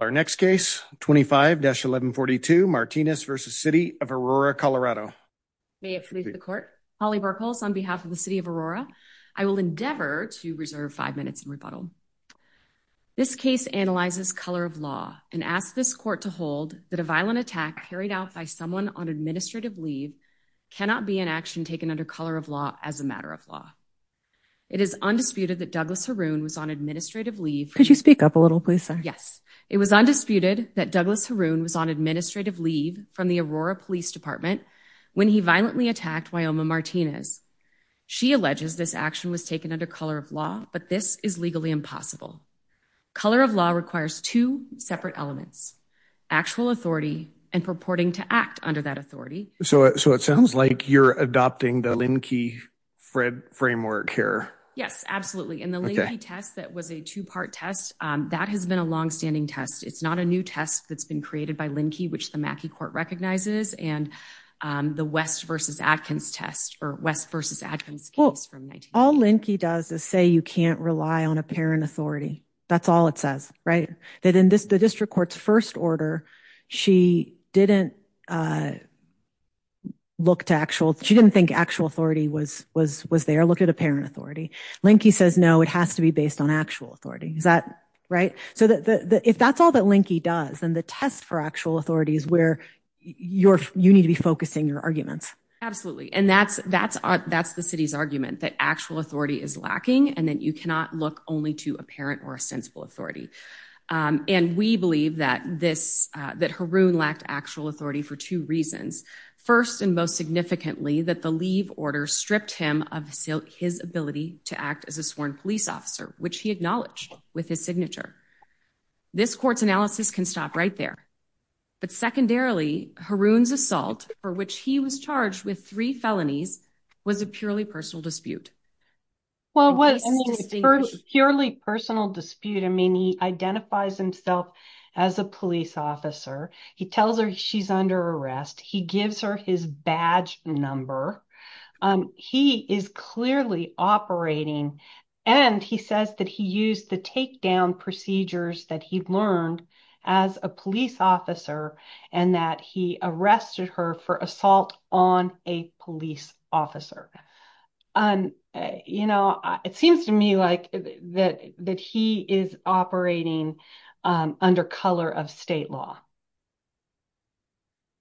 Our next case, 25-1142, Martinez v. City of Aurora, Colorado. May it please the court. Holly Burkholz on behalf of the City of Aurora. I will endeavor to reserve five minutes in rebuttal. This case analyzes color of law and asks this court to hold that a violent attack carried out by someone on administrative leave cannot be an action taken under color of law as a matter of law. It is undisputed that Douglas Haroon was on administrative leave Could you speak up a little, please, sir? Yes. It was undisputed that Douglas Haroon was on administrative leave from the Aurora Police Department when he violently attacked Wyoming Martinez. She alleges this action was taken under color of law, but this is legally impossible. Color of law requires two separate elements. Actual authority and purporting to act under that authority. So it sounds like you're adopting the Linn-Key-Fred framework here. Yes, absolutely. And the Linn-Key test that was a two-part test, that has been a longstanding test. It's not a new test that's been created by Linn-Key, which the Mackey Court recognizes. And the West v. Adkins test, or West v. Adkins case from 1980. All Linn-Key does is say you can't rely on apparent authority. That's all it says, right? That in the district court's first order, she didn't look to actual, she didn't think actual authority was there. She looked at apparent authority. Linn-Key says, no, it has to be based on actual authority. Is that right? So if that's all that Linn-Key does, then the test for actual authority is where you need to be focusing your arguments. Absolutely. And that's the city's argument, that actual authority is lacking, and that you cannot look only to apparent or sensible authority. And we believe that Haroon lacked actual authority for two reasons. First and most significantly, that the leave order stripped him of his ability to act as a sworn police officer, which he acknowledged with his signature. This court's analysis can stop right there. But secondarily, Haroon's assault for which he was charged with three felonies was a purely personal dispute. Well, it was a purely personal dispute. I mean, he identifies himself as a police officer. He tells her she's under arrest. He gives her his badge number. He is clearly operating, and he says that he used the takedown procedures that he'd learned as a police officer, and that he arrested her for assault on a police officer. You know, it seems to me like that he is operating under color of state law.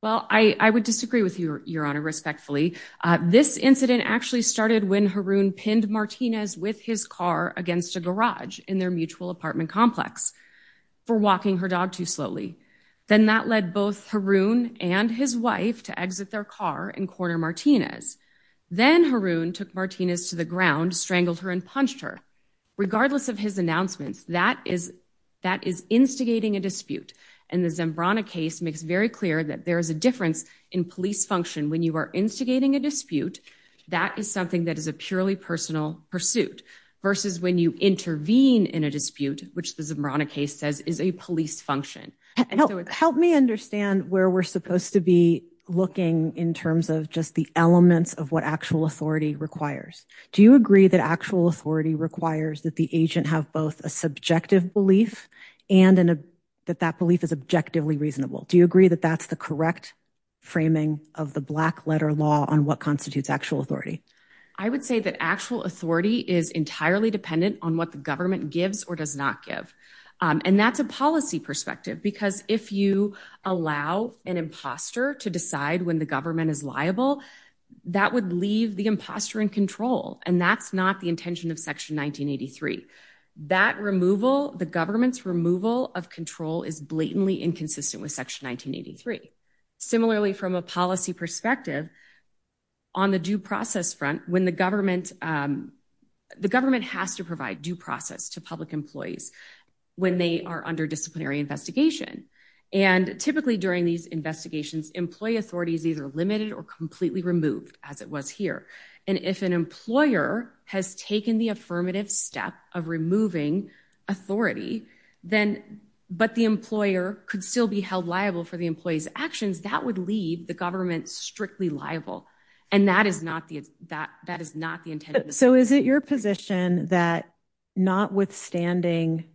Well, I would disagree with you, Your Honor, respectfully. This incident actually started when Haroon pinned Martinez with his car against a garage in their mutual apartment complex for walking her dog too slowly. Then that led both Haroon and his wife to exit their car and corner Martinez. Then Haroon took Martinez to the ground, strangled her and punched her. Regardless of his announcements, that is instigating a dispute. And the Zambrana case makes very clear that there is a difference in police function. When you are instigating a dispute, that is something that is a purely personal pursuit versus when you intervene in a dispute, which the Zambrana case says is a police function. Help me understand where we're supposed to be looking in terms of just the elements of what actual authority requires. Do you agree that actual authority requires that the agent have both a subjective belief and that that belief is objectively reasonable? Do you agree that that's the correct framing of the black letter law on what constitutes actual authority? I would say that actual authority is entirely dependent on what the government gives or does not give. And that's a policy perspective because if you allow an imposter to decide when the government is liable, that would leave the imposter in control. And that's not the intention of section 1983. That removal, the government's removal of control is blatantly inconsistent with section 1983. Similarly from a policy perspective on the due process front when the government, the government has to provide due process to public employees when they are under disciplinary investigation. And typically during these investigations, employee authority is either limited or completely removed as it was here. And if an employer has taken the affirmative step of removing authority then, but the employer could still be held liable for the employee's actions that would leave the government strictly liable. And that is not the, that, that is not the intent. So is it your position that not withstanding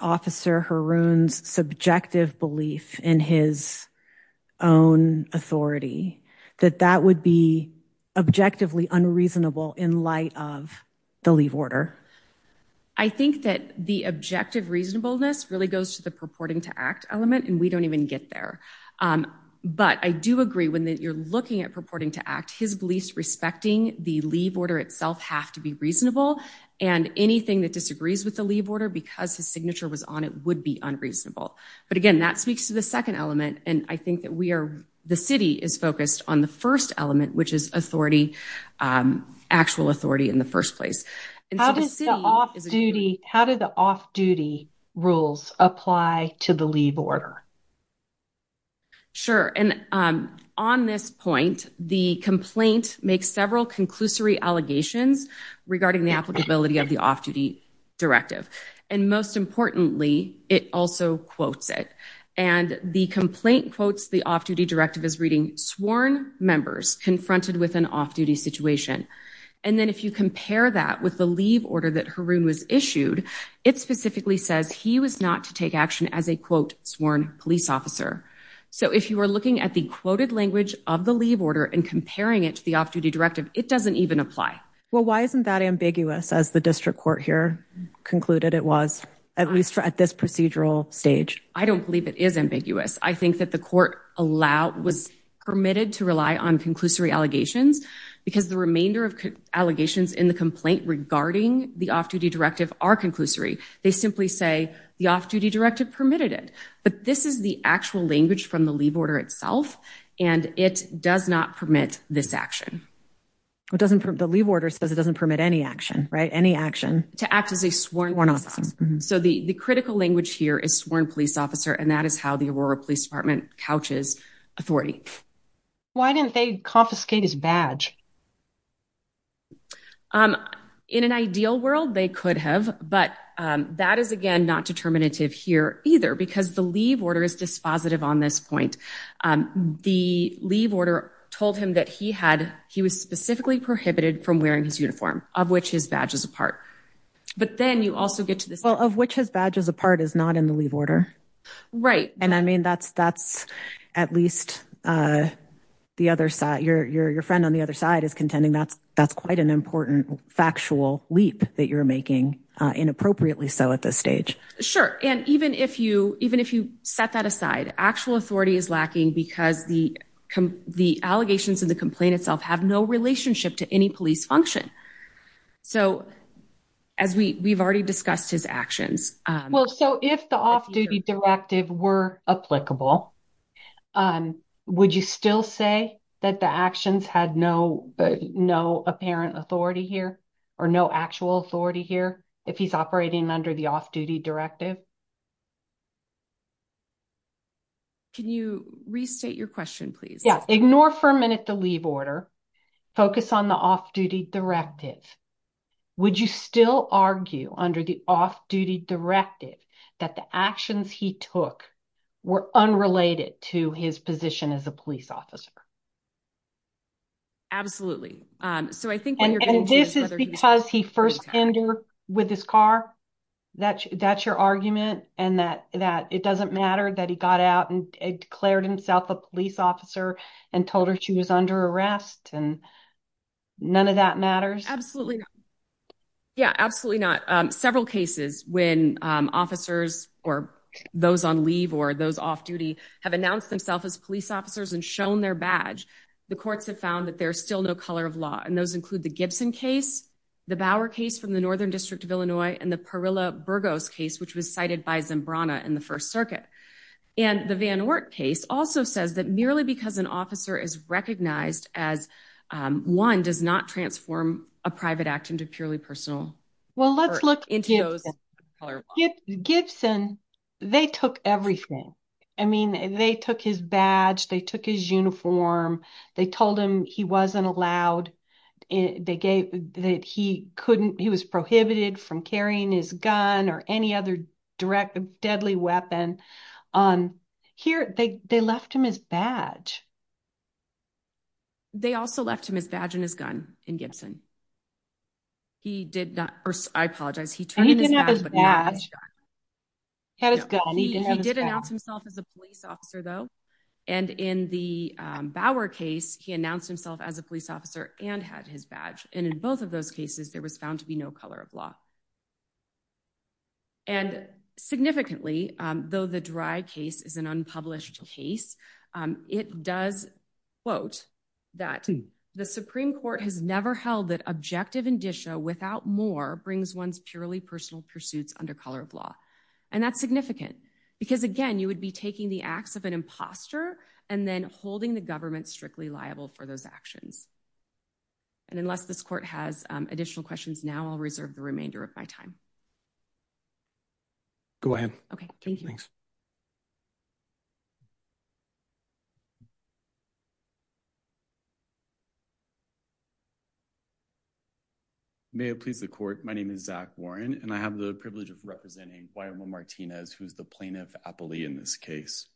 officer Haroon's subjective belief in his own authority, that that would be objectively unreasonable in light of the leave order? I think that the objective reasonableness really goes to the purporting to act element and we don't even get there. But I do agree when you're looking at purporting to act, his beliefs respecting the leave order itself have to be reasonable and anything that disagrees with the leave order because his signature was on it would be unreasonable. But again, that speaks to the second element. And I think that we are, the city is focused on the first element, which is authority actual authority in the first place. How does the off duty, how did the off duty rules apply to the leave order? Sure. And on this point, the complaint makes several conclusory allegations regarding the applicability of the off duty directive. And most importantly, it also quotes it. And the complaint quotes the off duty directive is reading sworn members confronted with an off duty situation. And then if you compare that with the leave order that Haroon was issued, it specifically says he was not to take action as a quote, sworn police officer. So if you are looking at the quoted language of the leave order and comparing it to the off duty directive, it doesn't even apply. Well, why isn't that ambiguous as the district court here concluded? It was at least for at this procedural stage. I don't believe it is ambiguous. I think that the court allowed was permitted to rely on conclusory allegations because the remainder of allegations in the complaint regarding the off duty directive are conclusory. They simply say the off duty directive permitted it, but this is the actual language from the leave order itself. And it does not permit this action. It doesn't the leave order says it doesn't permit any action, right? Any action to act as a sworn officer. So the critical language here is sworn police officer. And that is how the Aurora police department couches authority. Why didn't they confiscate his badge? In an ideal world, they could have, but that is again, not determinative here either because the leave order is dispositive on this point. The leave order told him that he had, he was specifically prohibited from wearing his uniform of which his badge is apart, but then you also get to this. Well of which has badges apart is not in the leave order. Right. And I mean, that's, that's at least the other side, your, your, your friend on the other side is contending. That's, that's quite an important factual leap that you're making inappropriately. So at this stage, sure. And even if you, even if you set that aside, actual authority is lacking because the, the allegations in the complaint itself have no relationship to any police function. So as we we've already discussed his actions. Well, so if the off duty directive were applicable, would you still say that the actions had no, no apparent authority here or no actual authority here? If he's operating under the off duty directive, Can you restate your question, please? Yeah. Ignore for a minute, the leave order focus on the off duty directive. Would you still argue under the off duty directive that the actions he took were unrelated to his position as a police officer? Absolutely. So I think, and this is because he first entered with his car, that that's your argument. And that, that it doesn't matter that he got out and declared himself a police officer and told her she was under arrest and none of that matters. Absolutely. Yeah, absolutely not. Several cases when officers or those on leave or those off duty have announced themselves as police officers and shown their badge. The courts have found that there's still no color of law. And those include the Gibson case, the Bauer case from the Northern district of Illinois and the Perilla Burgos case, which was cited by Zambrana in the first circuit. And the Van Ork case also says that merely because an officer is recognized as one does not transform a private act into purely personal. Well, let's look into those. Gibson, they took everything. I mean, they took his badge. They took his uniform. They told him he wasn't allowed. They gave that he couldn't, he was prohibited from carrying his gun or any other direct deadly weapon. Here they left him his badge. They also left him his badge and his gun in Gibson. He did not, or I apologize. He turned in his badge. He did announce himself as a police officer though. And in the Bauer case, he announced himself as a police officer and had his badge. And in both of those cases, there was found to be no color of law. And significantly though, the dry case is an unpublished case. It does quote that the Supreme court has never held that objective indicia without more brings one's purely personal pursuits under color of law. And that's significant because again, you would be taking the acts of an imposter and then holding the government strictly liable for those actions. And unless this court has additional questions now, I'll reserve the remainder of my time. Go ahead. Okay. Thanks. May it please the court. My name is Zach Warren and I have the privilege of representing why I'm a Martinez. Who's the plaintiff appellee in this case.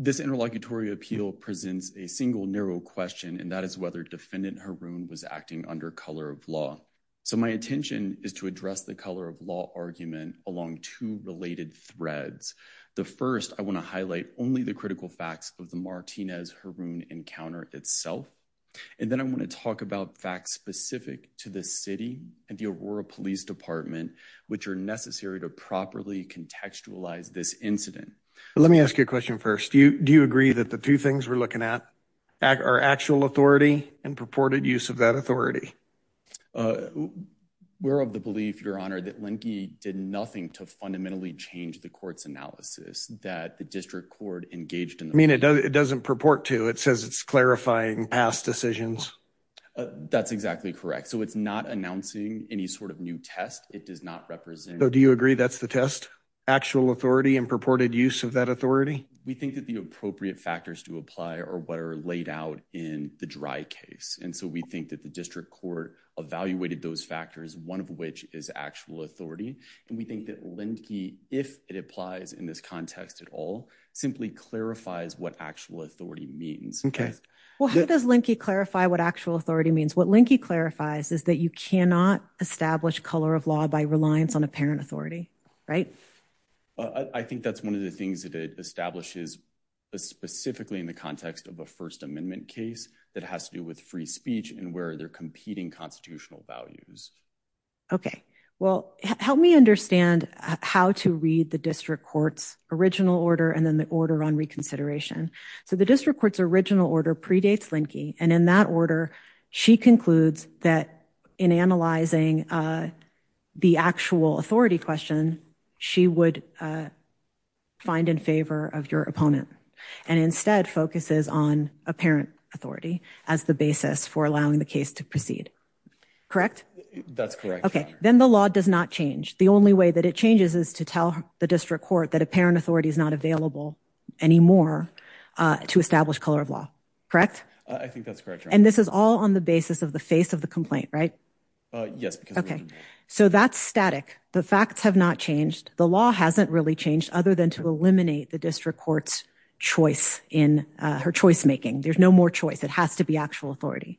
This interlocutory appeal presents a single narrow question and that is whether defendant Haroon was acting under color of law. So my attention is to address the color of law argument along two related threads. The first, I want to highlight only the critical facts of the Martinez Haroon encounter itself. And then I want to talk about facts specific to the city and the Aurora police department, which are necessary to properly contextualize this incident. Let me ask you a question first. Do you, do you agree that the two things we're looking at are actual authority and purported use of that authority? We're of the belief, your honor, that Lincoln did nothing to fundamentally change the court's analysis that the district court engaged in. I mean, it doesn't, it doesn't purport to, it says it's clarifying past decisions. That's exactly correct. So it's not announcing any sort of new test. It does not represent. Do you agree that's the test actual authority and purported use of that authority? We do not believe that the district court has any appropriate factors to apply or what are laid out in the dry case. And so we think that the district court evaluated those factors, one of which is actual authority. And we think that Linkey, if it applies in this context at all, simply clarifies what actual authority means. Okay. Well, how does Linkey clarify what actual authority means? What Linkey clarifies is that you cannot establish color of law by reliance on a parent authority. Right. I think that's one of the things that it establishes specifically in the context of a first amendment case that has to do with free speech and where they're competing constitutional values. Okay. Well, help me understand how to read the district court's original order. And then the order on reconsideration. So the district court's original order predates Linkey. And in that order, she concludes that in analyzing the actual authority question, she would find in favor of your opponent and instead focuses on a parent authority as the basis for allowing the case to proceed. Correct. That's correct. Okay. Then the law does not change. The only way that it changes is to tell the district court that a parent authority is not available anymore to establish color of law. Correct. I think that's correct. And this is all on the basis of the face of the complaint, right? Yes. Okay. So that's static. The facts have not changed. The law hasn't really changed other than to eliminate the district court's choice in her choice-making. There's no more choice. It has to be actual authority.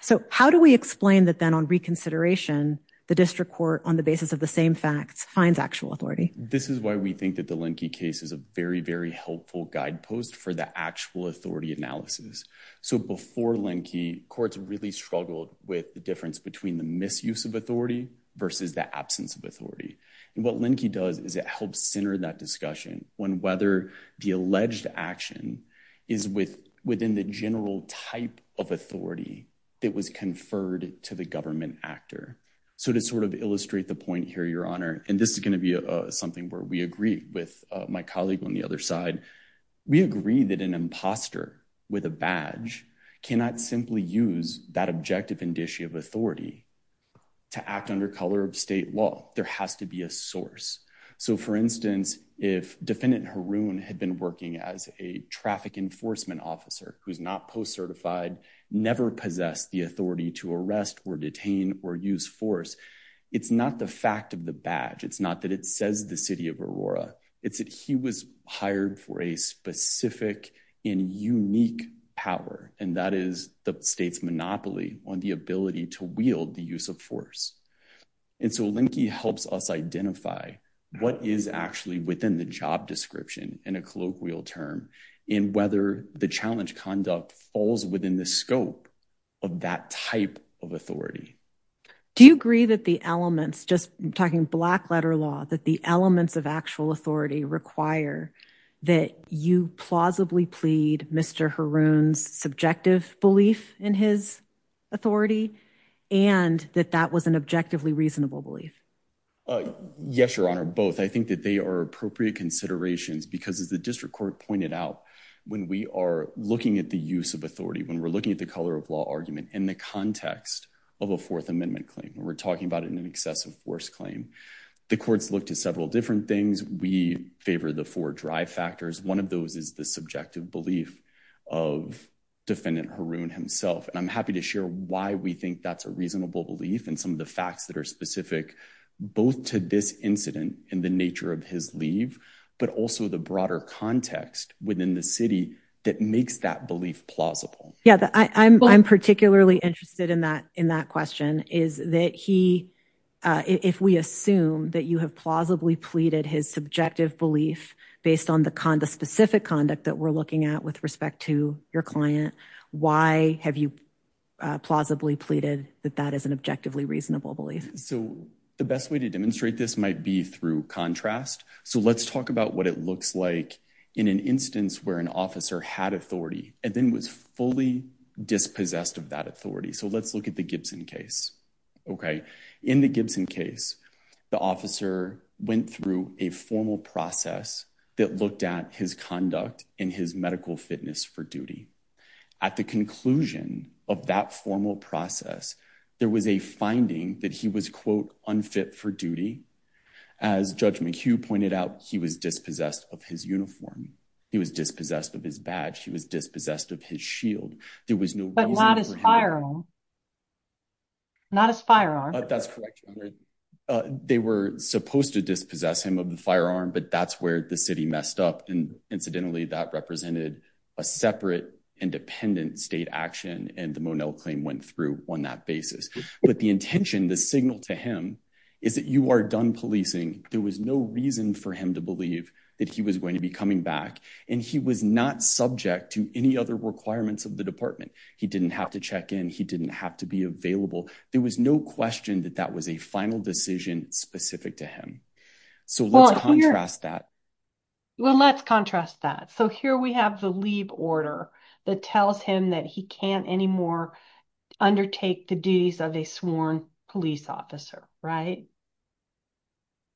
So how do we explain that then on reconsideration, the district court on the basis of the same facts finds actual authority. This is why we think that the Linkey case is a very, very helpful guide post for the actual authority analysis. So before Linkey courts really struggled with the difference between the absence of authority and what Linkey does is it helps center that discussion when, whether the alleged action is with within the general type of authority that was conferred to the government actor. So to sort of illustrate the point here, your honor, and this is going to be something where we agree with my colleague on the other side, we agree that an imposter with a badge cannot simply use that objective indicia of authority to act under color of state law. There has to be a source. So for instance, if defendant Haroon had been working as a traffic enforcement officer, who's not post-certified never possessed the authority to arrest or detain or use force. It's not the fact of the badge. It's not that it says the city of Aurora it's that he was hired for a specific in unique power. And that is the state's monopoly on the ability to wield the use of force. And so Linkey helps us identify what is actually within the job description and a colloquial term in whether the challenge conduct falls within the scope of that type of authority. Do you agree that the elements just talking black letter law, that the elements of actual authority require that you plausibly plead Mr. Haroon's subjective belief in his authority and that that was an objectively reasonable belief? Yes, your honor. Both. I think that they are appropriate considerations because as the district court pointed out, when we are looking at the use of authority, when we're looking at the color of law argument in the context of a fourth amendment claim, when we're talking about it in an excessive force claim, the courts look to several different things. We favor the four drive factors. One of those is the subjective belief of defendant Haroon himself. And I'm happy to share why we think that's a reasonable belief in some of the facts that are specific both to this incident in the nature of his leave, but also the broader context within the city that makes that belief plausible. Yeah. I'm, I'm particularly interested in that, in that question is that he, if we assume that you have plausibly pleaded his subjective belief based on the con the specific conduct that we're looking at with respect to your client, why have you plausibly pleaded that that is an objectively reasonable belief? So the best way to demonstrate this might be through contrast. So let's talk about what it looks like in an instance where an officer had authority and then was fully dispossessed of that authority. So let's look at the Gibson case. Okay. In the Gibson case, the officer went through a formal process that looked at his conduct in his medical fitness for duty. At the conclusion of that formal process, there was a finding that he was quote unfit for duty. As judge McHugh pointed out, he was dispossessed of his uniform. He was dispossessed of his badge. He was dispossessed of his shield. There was no, not as firearm, not as firearm. That's correct. They were supposed to dispossess him of the firearm, but that's where the city messed up. And incidentally, that represented a separate independent state action. And the Monell claim went through on that basis. But the intention, the signal to him is that you are done policing. There was no reason for him to believe that he was going to be coming back. And he was not subject to any other requirements of the department. He didn't have to check in. He didn't have to be available. There was no question that that was a final decision specific to him. So let's contrast that. Well, let's contrast that. So here we have the leave order that tells him that he can't anymore undertake the duties of a sworn police officer. Right.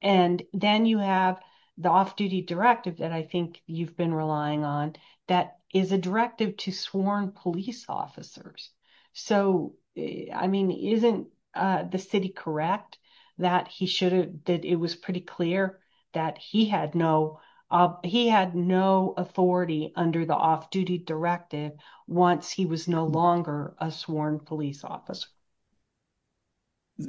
And then you have the off duty directive that I think you've been relying on that is a directive to sworn police officers. So, I mean, isn't the city correct that he should have did? It was pretty clear that he had no, he had no authority under the off duty directive once he was no longer a sworn police officer.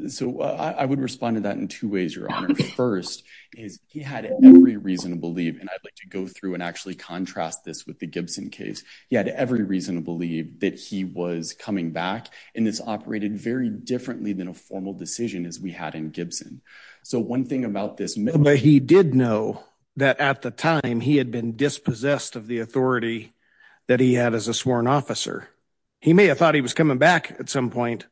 So I would respond to that in two ways. Your honor. First is he had every reason to believe, and I'd like to go through and actually contrast this with the Gibson case. He had every reason to believe that he was coming back in this operated very differently than a formal decision as we had in Gibson. So one thing about this. But he did know that at the time he had been dispossessed of the authority that he had as a sworn officer, he may have thought he was coming back at some point,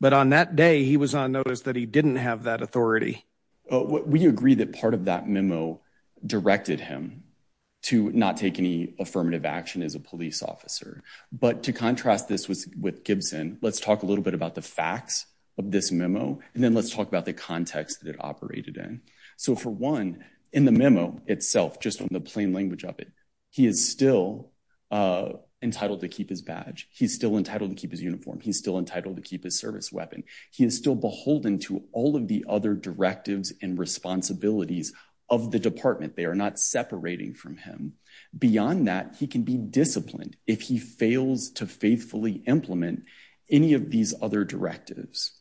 but on that day, he was on notice that he didn't have that authority. We agree that part of that memo directed him to not take any affirmative action as a police officer. But to contrast, this was with Gibson. Let's talk a little bit about the facts of this memo. And then let's talk about the context that it operated in. So for one, in the memo itself, just on the plain language of it, he is still entitled to keep his badge. He's still entitled to keep his uniform. He's still entitled to keep his service weapon. He is still beholden to all of the other directives and responsibilities of the department. They are not separating from him beyond that. He can be disciplined if he fails to faithfully implement any of these other directives.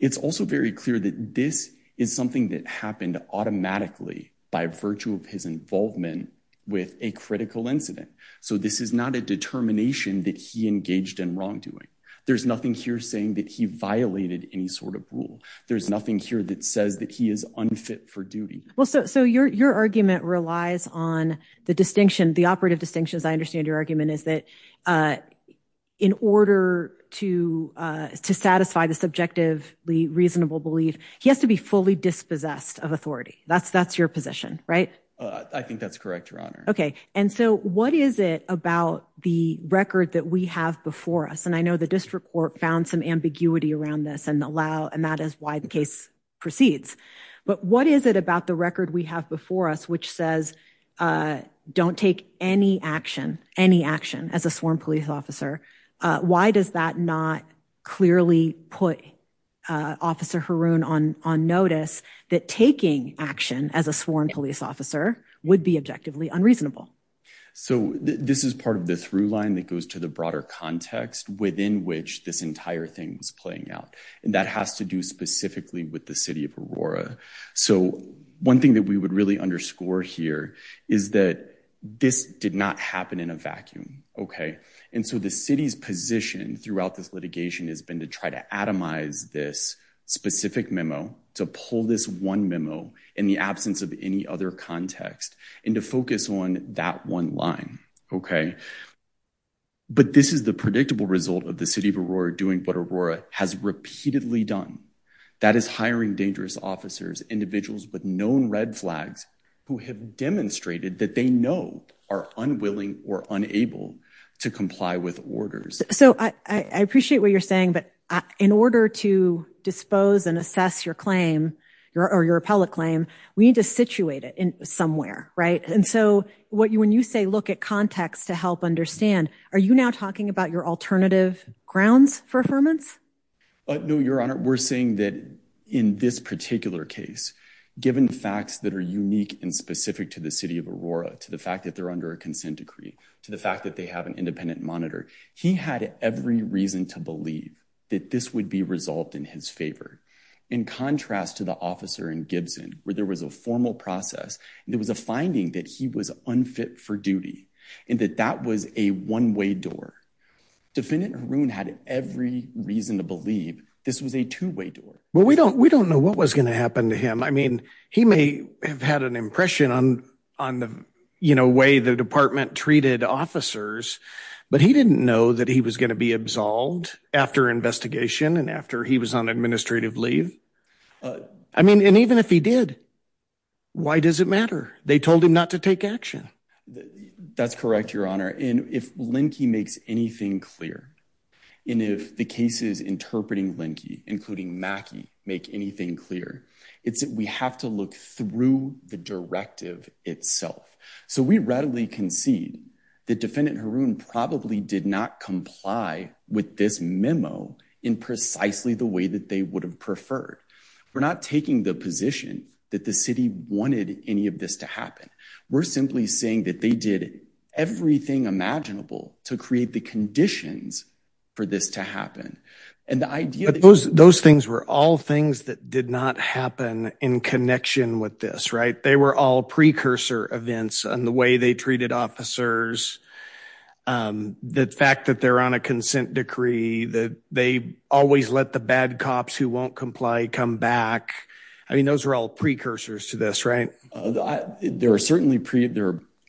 It's also very clear that this is something that happened automatically by virtue of his involvement with a critical incident. So this is not a determination that he engaged in wrongdoing. There's nothing here saying that he violated any sort of rule. There's nothing here that says that he is unfit for duty. Well, so, so your, your argument relies on the distinction, the operative distinctions. I understand your argument is that, uh, in order to, uh, to satisfy the subjectively reasonable belief, he has to be fully dispossessed of authority. That's, that's your position, right? I think that's correct, Your Honor. Okay. And so what is it about the record that we have before us? And I know the district court found some ambiguity around this and allow, and that is why the case proceeds, but what is it about the record we have before us, which says, uh, don't take any action, any action as a sworn police officer. Uh, why does that not clearly put, uh, officer Haroon on, on notice that taking action as a sworn police officer would be objectively unreasonable. So this is part of the through line that goes to the broader context within which this entire thing is playing out. And that has to do specifically with the city of Aurora. So one thing that we would really underscore here is that this did not happen in a vacuum. Okay. And so the city's position throughout this litigation has been to try to atomize this specific memo to pull this one memo in the absence of any other context and to focus on that one line. Okay. But this is the predictable result of the city of Aurora doing what Aurora has repeatedly done. That is hiring dangerous officers, individuals with known red flags who have demonstrated that they know are unwilling or unable to comply with orders. So I appreciate what you're saying, but in order to dispose and assess your claim or your appellate claim, we need to situate it in somewhere. Right. And so what you, when you say look at context to help understand, are you now talking about your alternative grounds for affirmance? No, Your Honor. We're saying that in this particular case, given facts that are unique and specific to the city of Aurora, to the fact that they're under a consent decree, to the fact that they have an independent monitor, he had every reason to believe that this would be resolved in his favor. In contrast to the officer in Gibson, where there was a formal process, there was a finding that he was unfit for duty and that that was a one way door. Defendant Haroon had every reason to believe this was a two way door. Well, we don't, we don't know what was going to happen to him. I mean, he may have had an impression on, on the, you know, way the department treated officers, but he didn't know that he was going to be absolved after investigation. And after he was on administrative leave, I mean, and even if he did, why does it matter? They told him not to take action. That's correct, Your Honor. And if Linkey makes anything clear, and if the cases interpreting Linkey, including Mackie, make anything clear, it's that we have to look through the directive itself. So we readily concede that defendant Haroon probably did not comply with this memo in precisely the way that they would have preferred. We're not taking the position that the city wanted any of this to happen. We're simply saying that they did everything imaginable to create the conditions for this to happen. And the idea. Those, those things were all things that did not happen in connection with this, right. They were all precursor events on the way they treated officers. The fact that they're on a consent decree that they always let the bad cops who won't comply, come back. I mean, those were all precursors to this, right? There are certainly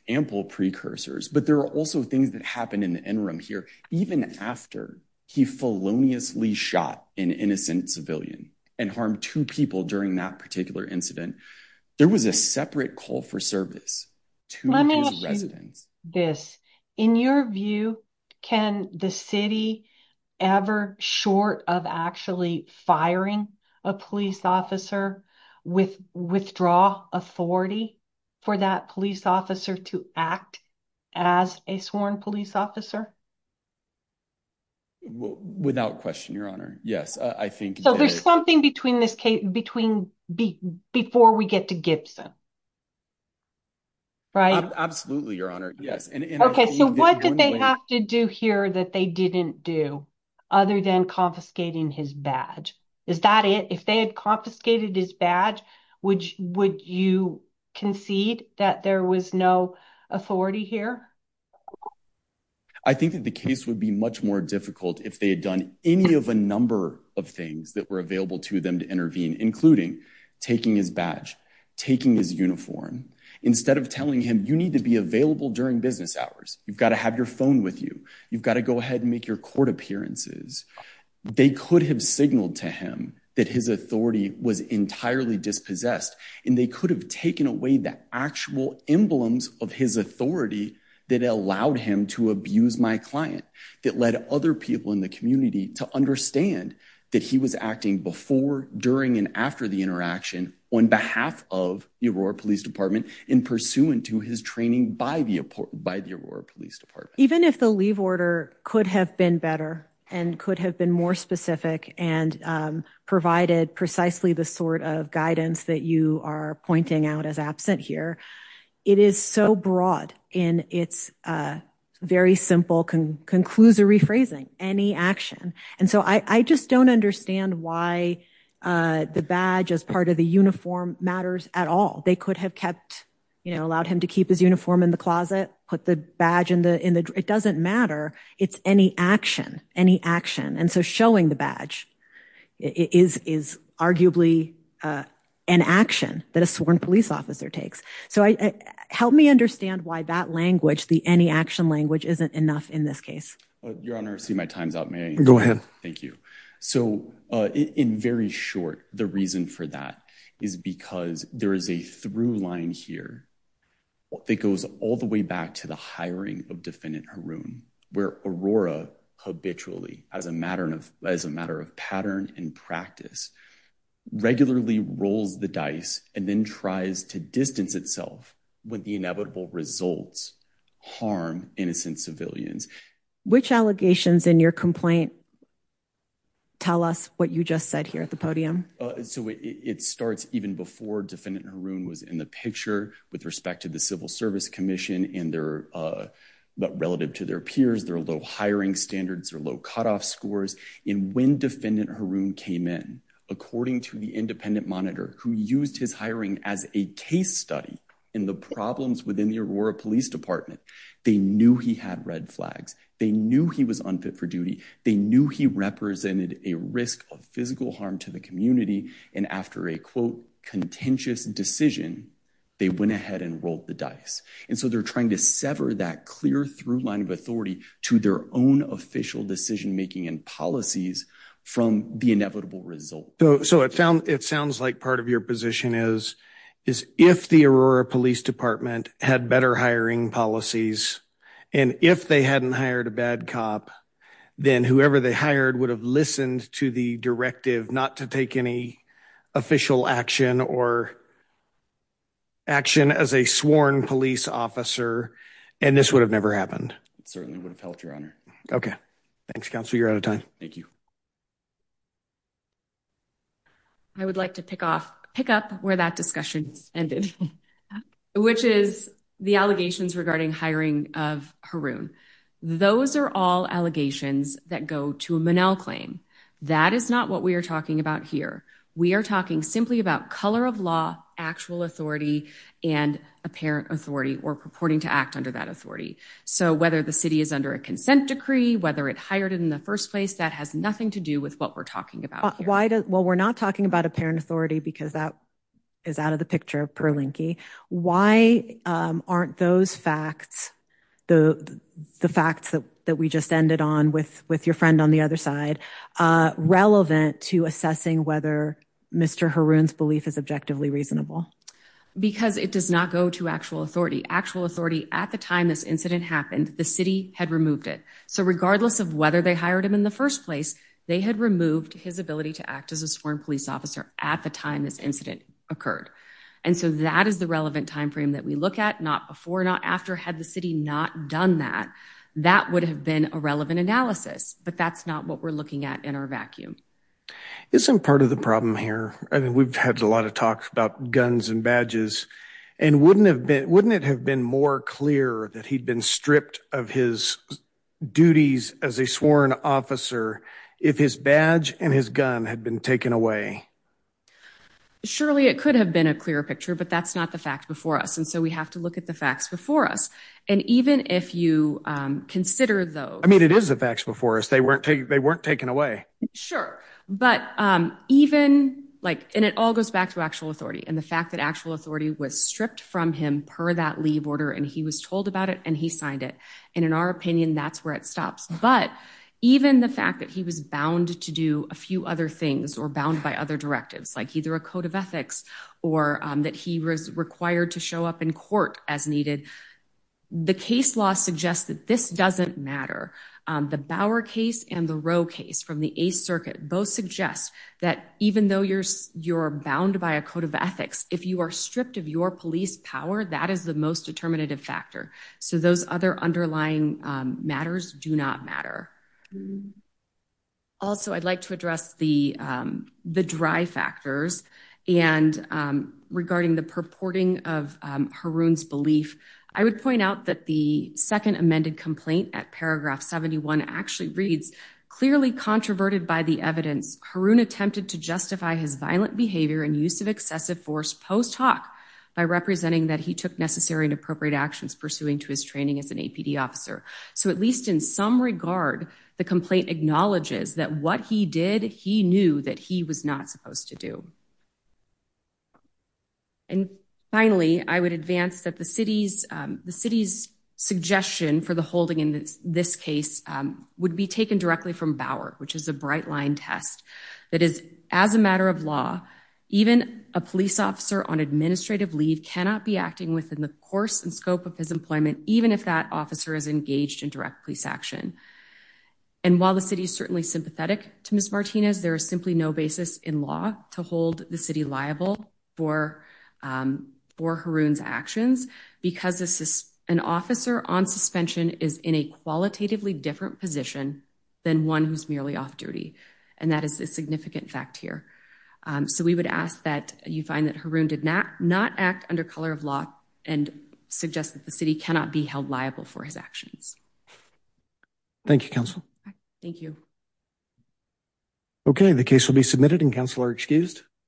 ample precursors, but there are also things that happened in the interim here, even after he feloniously shot an innocent civilian and harmed two people during that particular incident, there was a separate call for service to his residents. In your view, can the city ever short of actually firing a police officer with withdraw authority for that police officer to act as a sworn police officer? Without question, your honor. Yes. I think there's something between this case between B before we get to Gibson. Right. Absolutely. Your honor. Yes. And what did they have to do here that they didn't do other than confiscating his badge? Is that it? If they had confiscated his badge, which would you concede that there was no authority here? I think that the case would be much more difficult if they had done any of a number of things that were available to them to intervene, including taking his badge, taking his uniform, instead of telling him you need to be available during business hours, you've got to have your phone with you. You've got to go ahead and make your court appearances. They could have signaled to him that his authority was entirely dispossessed and they could have taken away the actual emblems of his authority that allowed him to abuse my client, that led other people in the community to understand that he was acting before, and after the interaction on behalf of the Aurora police department in pursuant to his training by the, by the Aurora police department. Even if the leave order could have been better and could have been more specific and provided precisely the sort of guidance that you are pointing out as absent here, it is so broad in it's a very simple conclusory phrasing, any action. And so I just don't understand why the badge as part of the uniform matters at all. They could have kept, you know, told him to keep his uniform in the closet, put the badge in the, in the, it doesn't matter. It's any action, any action. And so showing the badge is, is arguably an action that a sworn police officer takes. So I help me understand why that language, the any action language isn't enough in this case. Your Honor, see my time's up. May I go ahead? Thank you. So in very short, the reason for that is because there is a through line here. It goes all the way back to the hiring of defendant Haroon where Aurora habitually as a matter of, as a matter of pattern and practice, regularly rolls the dice and then tries to distance itself with the inevitable results, harm, innocent civilians, which allegations in your complaint, tell us what you just said here at the podium. So it starts even before defendant Haroon was in the picture with respect to the civil service commission and their, but relative to their peers, there are low hiring standards or low cutoff scores. And when defendant Haroon came in, according to the independent monitor who used his hiring as a case study in the problems within the Aurora police department, they knew he had red flags. They knew he was unfit for duty. They knew he represented a risk of physical harm to the community. And after a quote contentious decision, they went ahead and rolled the dice. And so they're trying to sever that clear through line of authority to their own official decision-making and policies from the inevitable result. So, so it found, it sounds like part of your position is is if the Aurora police department had better hiring policies and if they hadn't hired a bad cop, then whoever they hired would have listened to the directive, not to take any official action or action as a sworn police officer. And this would have never happened. It certainly would have helped your honor. Okay. Thanks counsel. You're out of time. Thank you. I would like to pick off, pick up where that discussion ended, which is the allegations regarding hiring of Haroon. Those are all allegations that go to a Monell claim. That is not what we are talking about here. We are talking simply about color of law, actual authority and apparent authority or purporting to act under that authority. So whether the city is under a consent decree, whether it hired it in the first place, that has nothing to do with what we're talking about. Why does, well, we're not talking about apparent authority because that is out of the that we just ended on with, with your friend on the other side, relevant to assessing whether Mr. Haroon's belief is objectively reasonable because it does not go to actual authority, actual authority. At the time, this incident happened, the city had removed it. So regardless of whether they hired him in the first place, they had removed his ability to act as a sworn police officer at the time this incident occurred. And so that is the relevant timeframe that we look at not before, not after had the city not done that, that would have been a relevant analysis, but that's not what we're looking at in our vacuum. Isn't part of the problem here. I mean, we've had a lot of talks about guns and badges and wouldn't have been, wouldn't it have been more clear that he'd been stripped of his duties as a sworn officer. If his badge and his gun had been taken away. Surely it could have been a clearer picture, but that's not the fact before us. And so we have to look at the facts before us. And even if you consider those, I mean, it is a factual forest. They weren't taking, they weren't taken away. Sure. But even like, and it all goes back to actual authority and the fact that actual authority was stripped from him per that leave order. And he was told about it and he signed it. And in our opinion, that's where it stops. But even the fact that he was bound to do a few other things or bound by other directives, like either a code of ethics, or that he was required to show up in court as needed. The case law suggests that this doesn't matter. The Bauer case and the row case from the ACE circuit, both suggest that even though you're, you're bound by a code of ethics, if you are stripped of your police power, that is the most determinative factor. So those other underlying matters do not matter. Also, I'd like to address the, the dry factors and, and regarding the purporting of Haroon's belief, I would point out that the second amended complaint at paragraph 71 actually reads clearly controverted by the evidence Haroon attempted to justify his violent behavior and use of excessive force post hoc by representing that he took necessary and appropriate actions pursuing to his training as an APD officer. So at least in some regard, the complaint acknowledges that what he did, he knew that he was not supposed to do. And finally, I would advance that the city's the city's suggestion for the holding in this case would be taken directly from Bauer, which is a bright line test that is as a matter of law, even a police officer on administrative leave cannot be acting within the course and scope of his employment, even if that officer is engaged in direct police action. And while the city is certainly sympathetic to Ms. Martinez, there is simply no basis in law to hold the city liable for for Haroon's because this is an officer on suspension is in a qualitatively different position than one who's merely off duty. And that is a significant fact here. So we would ask that you find that Haroon did not not act under color of law and suggest that the city cannot be held liable for his actions. Thank you, council. Thank you. Okay. The case will be submitted and counselor excused.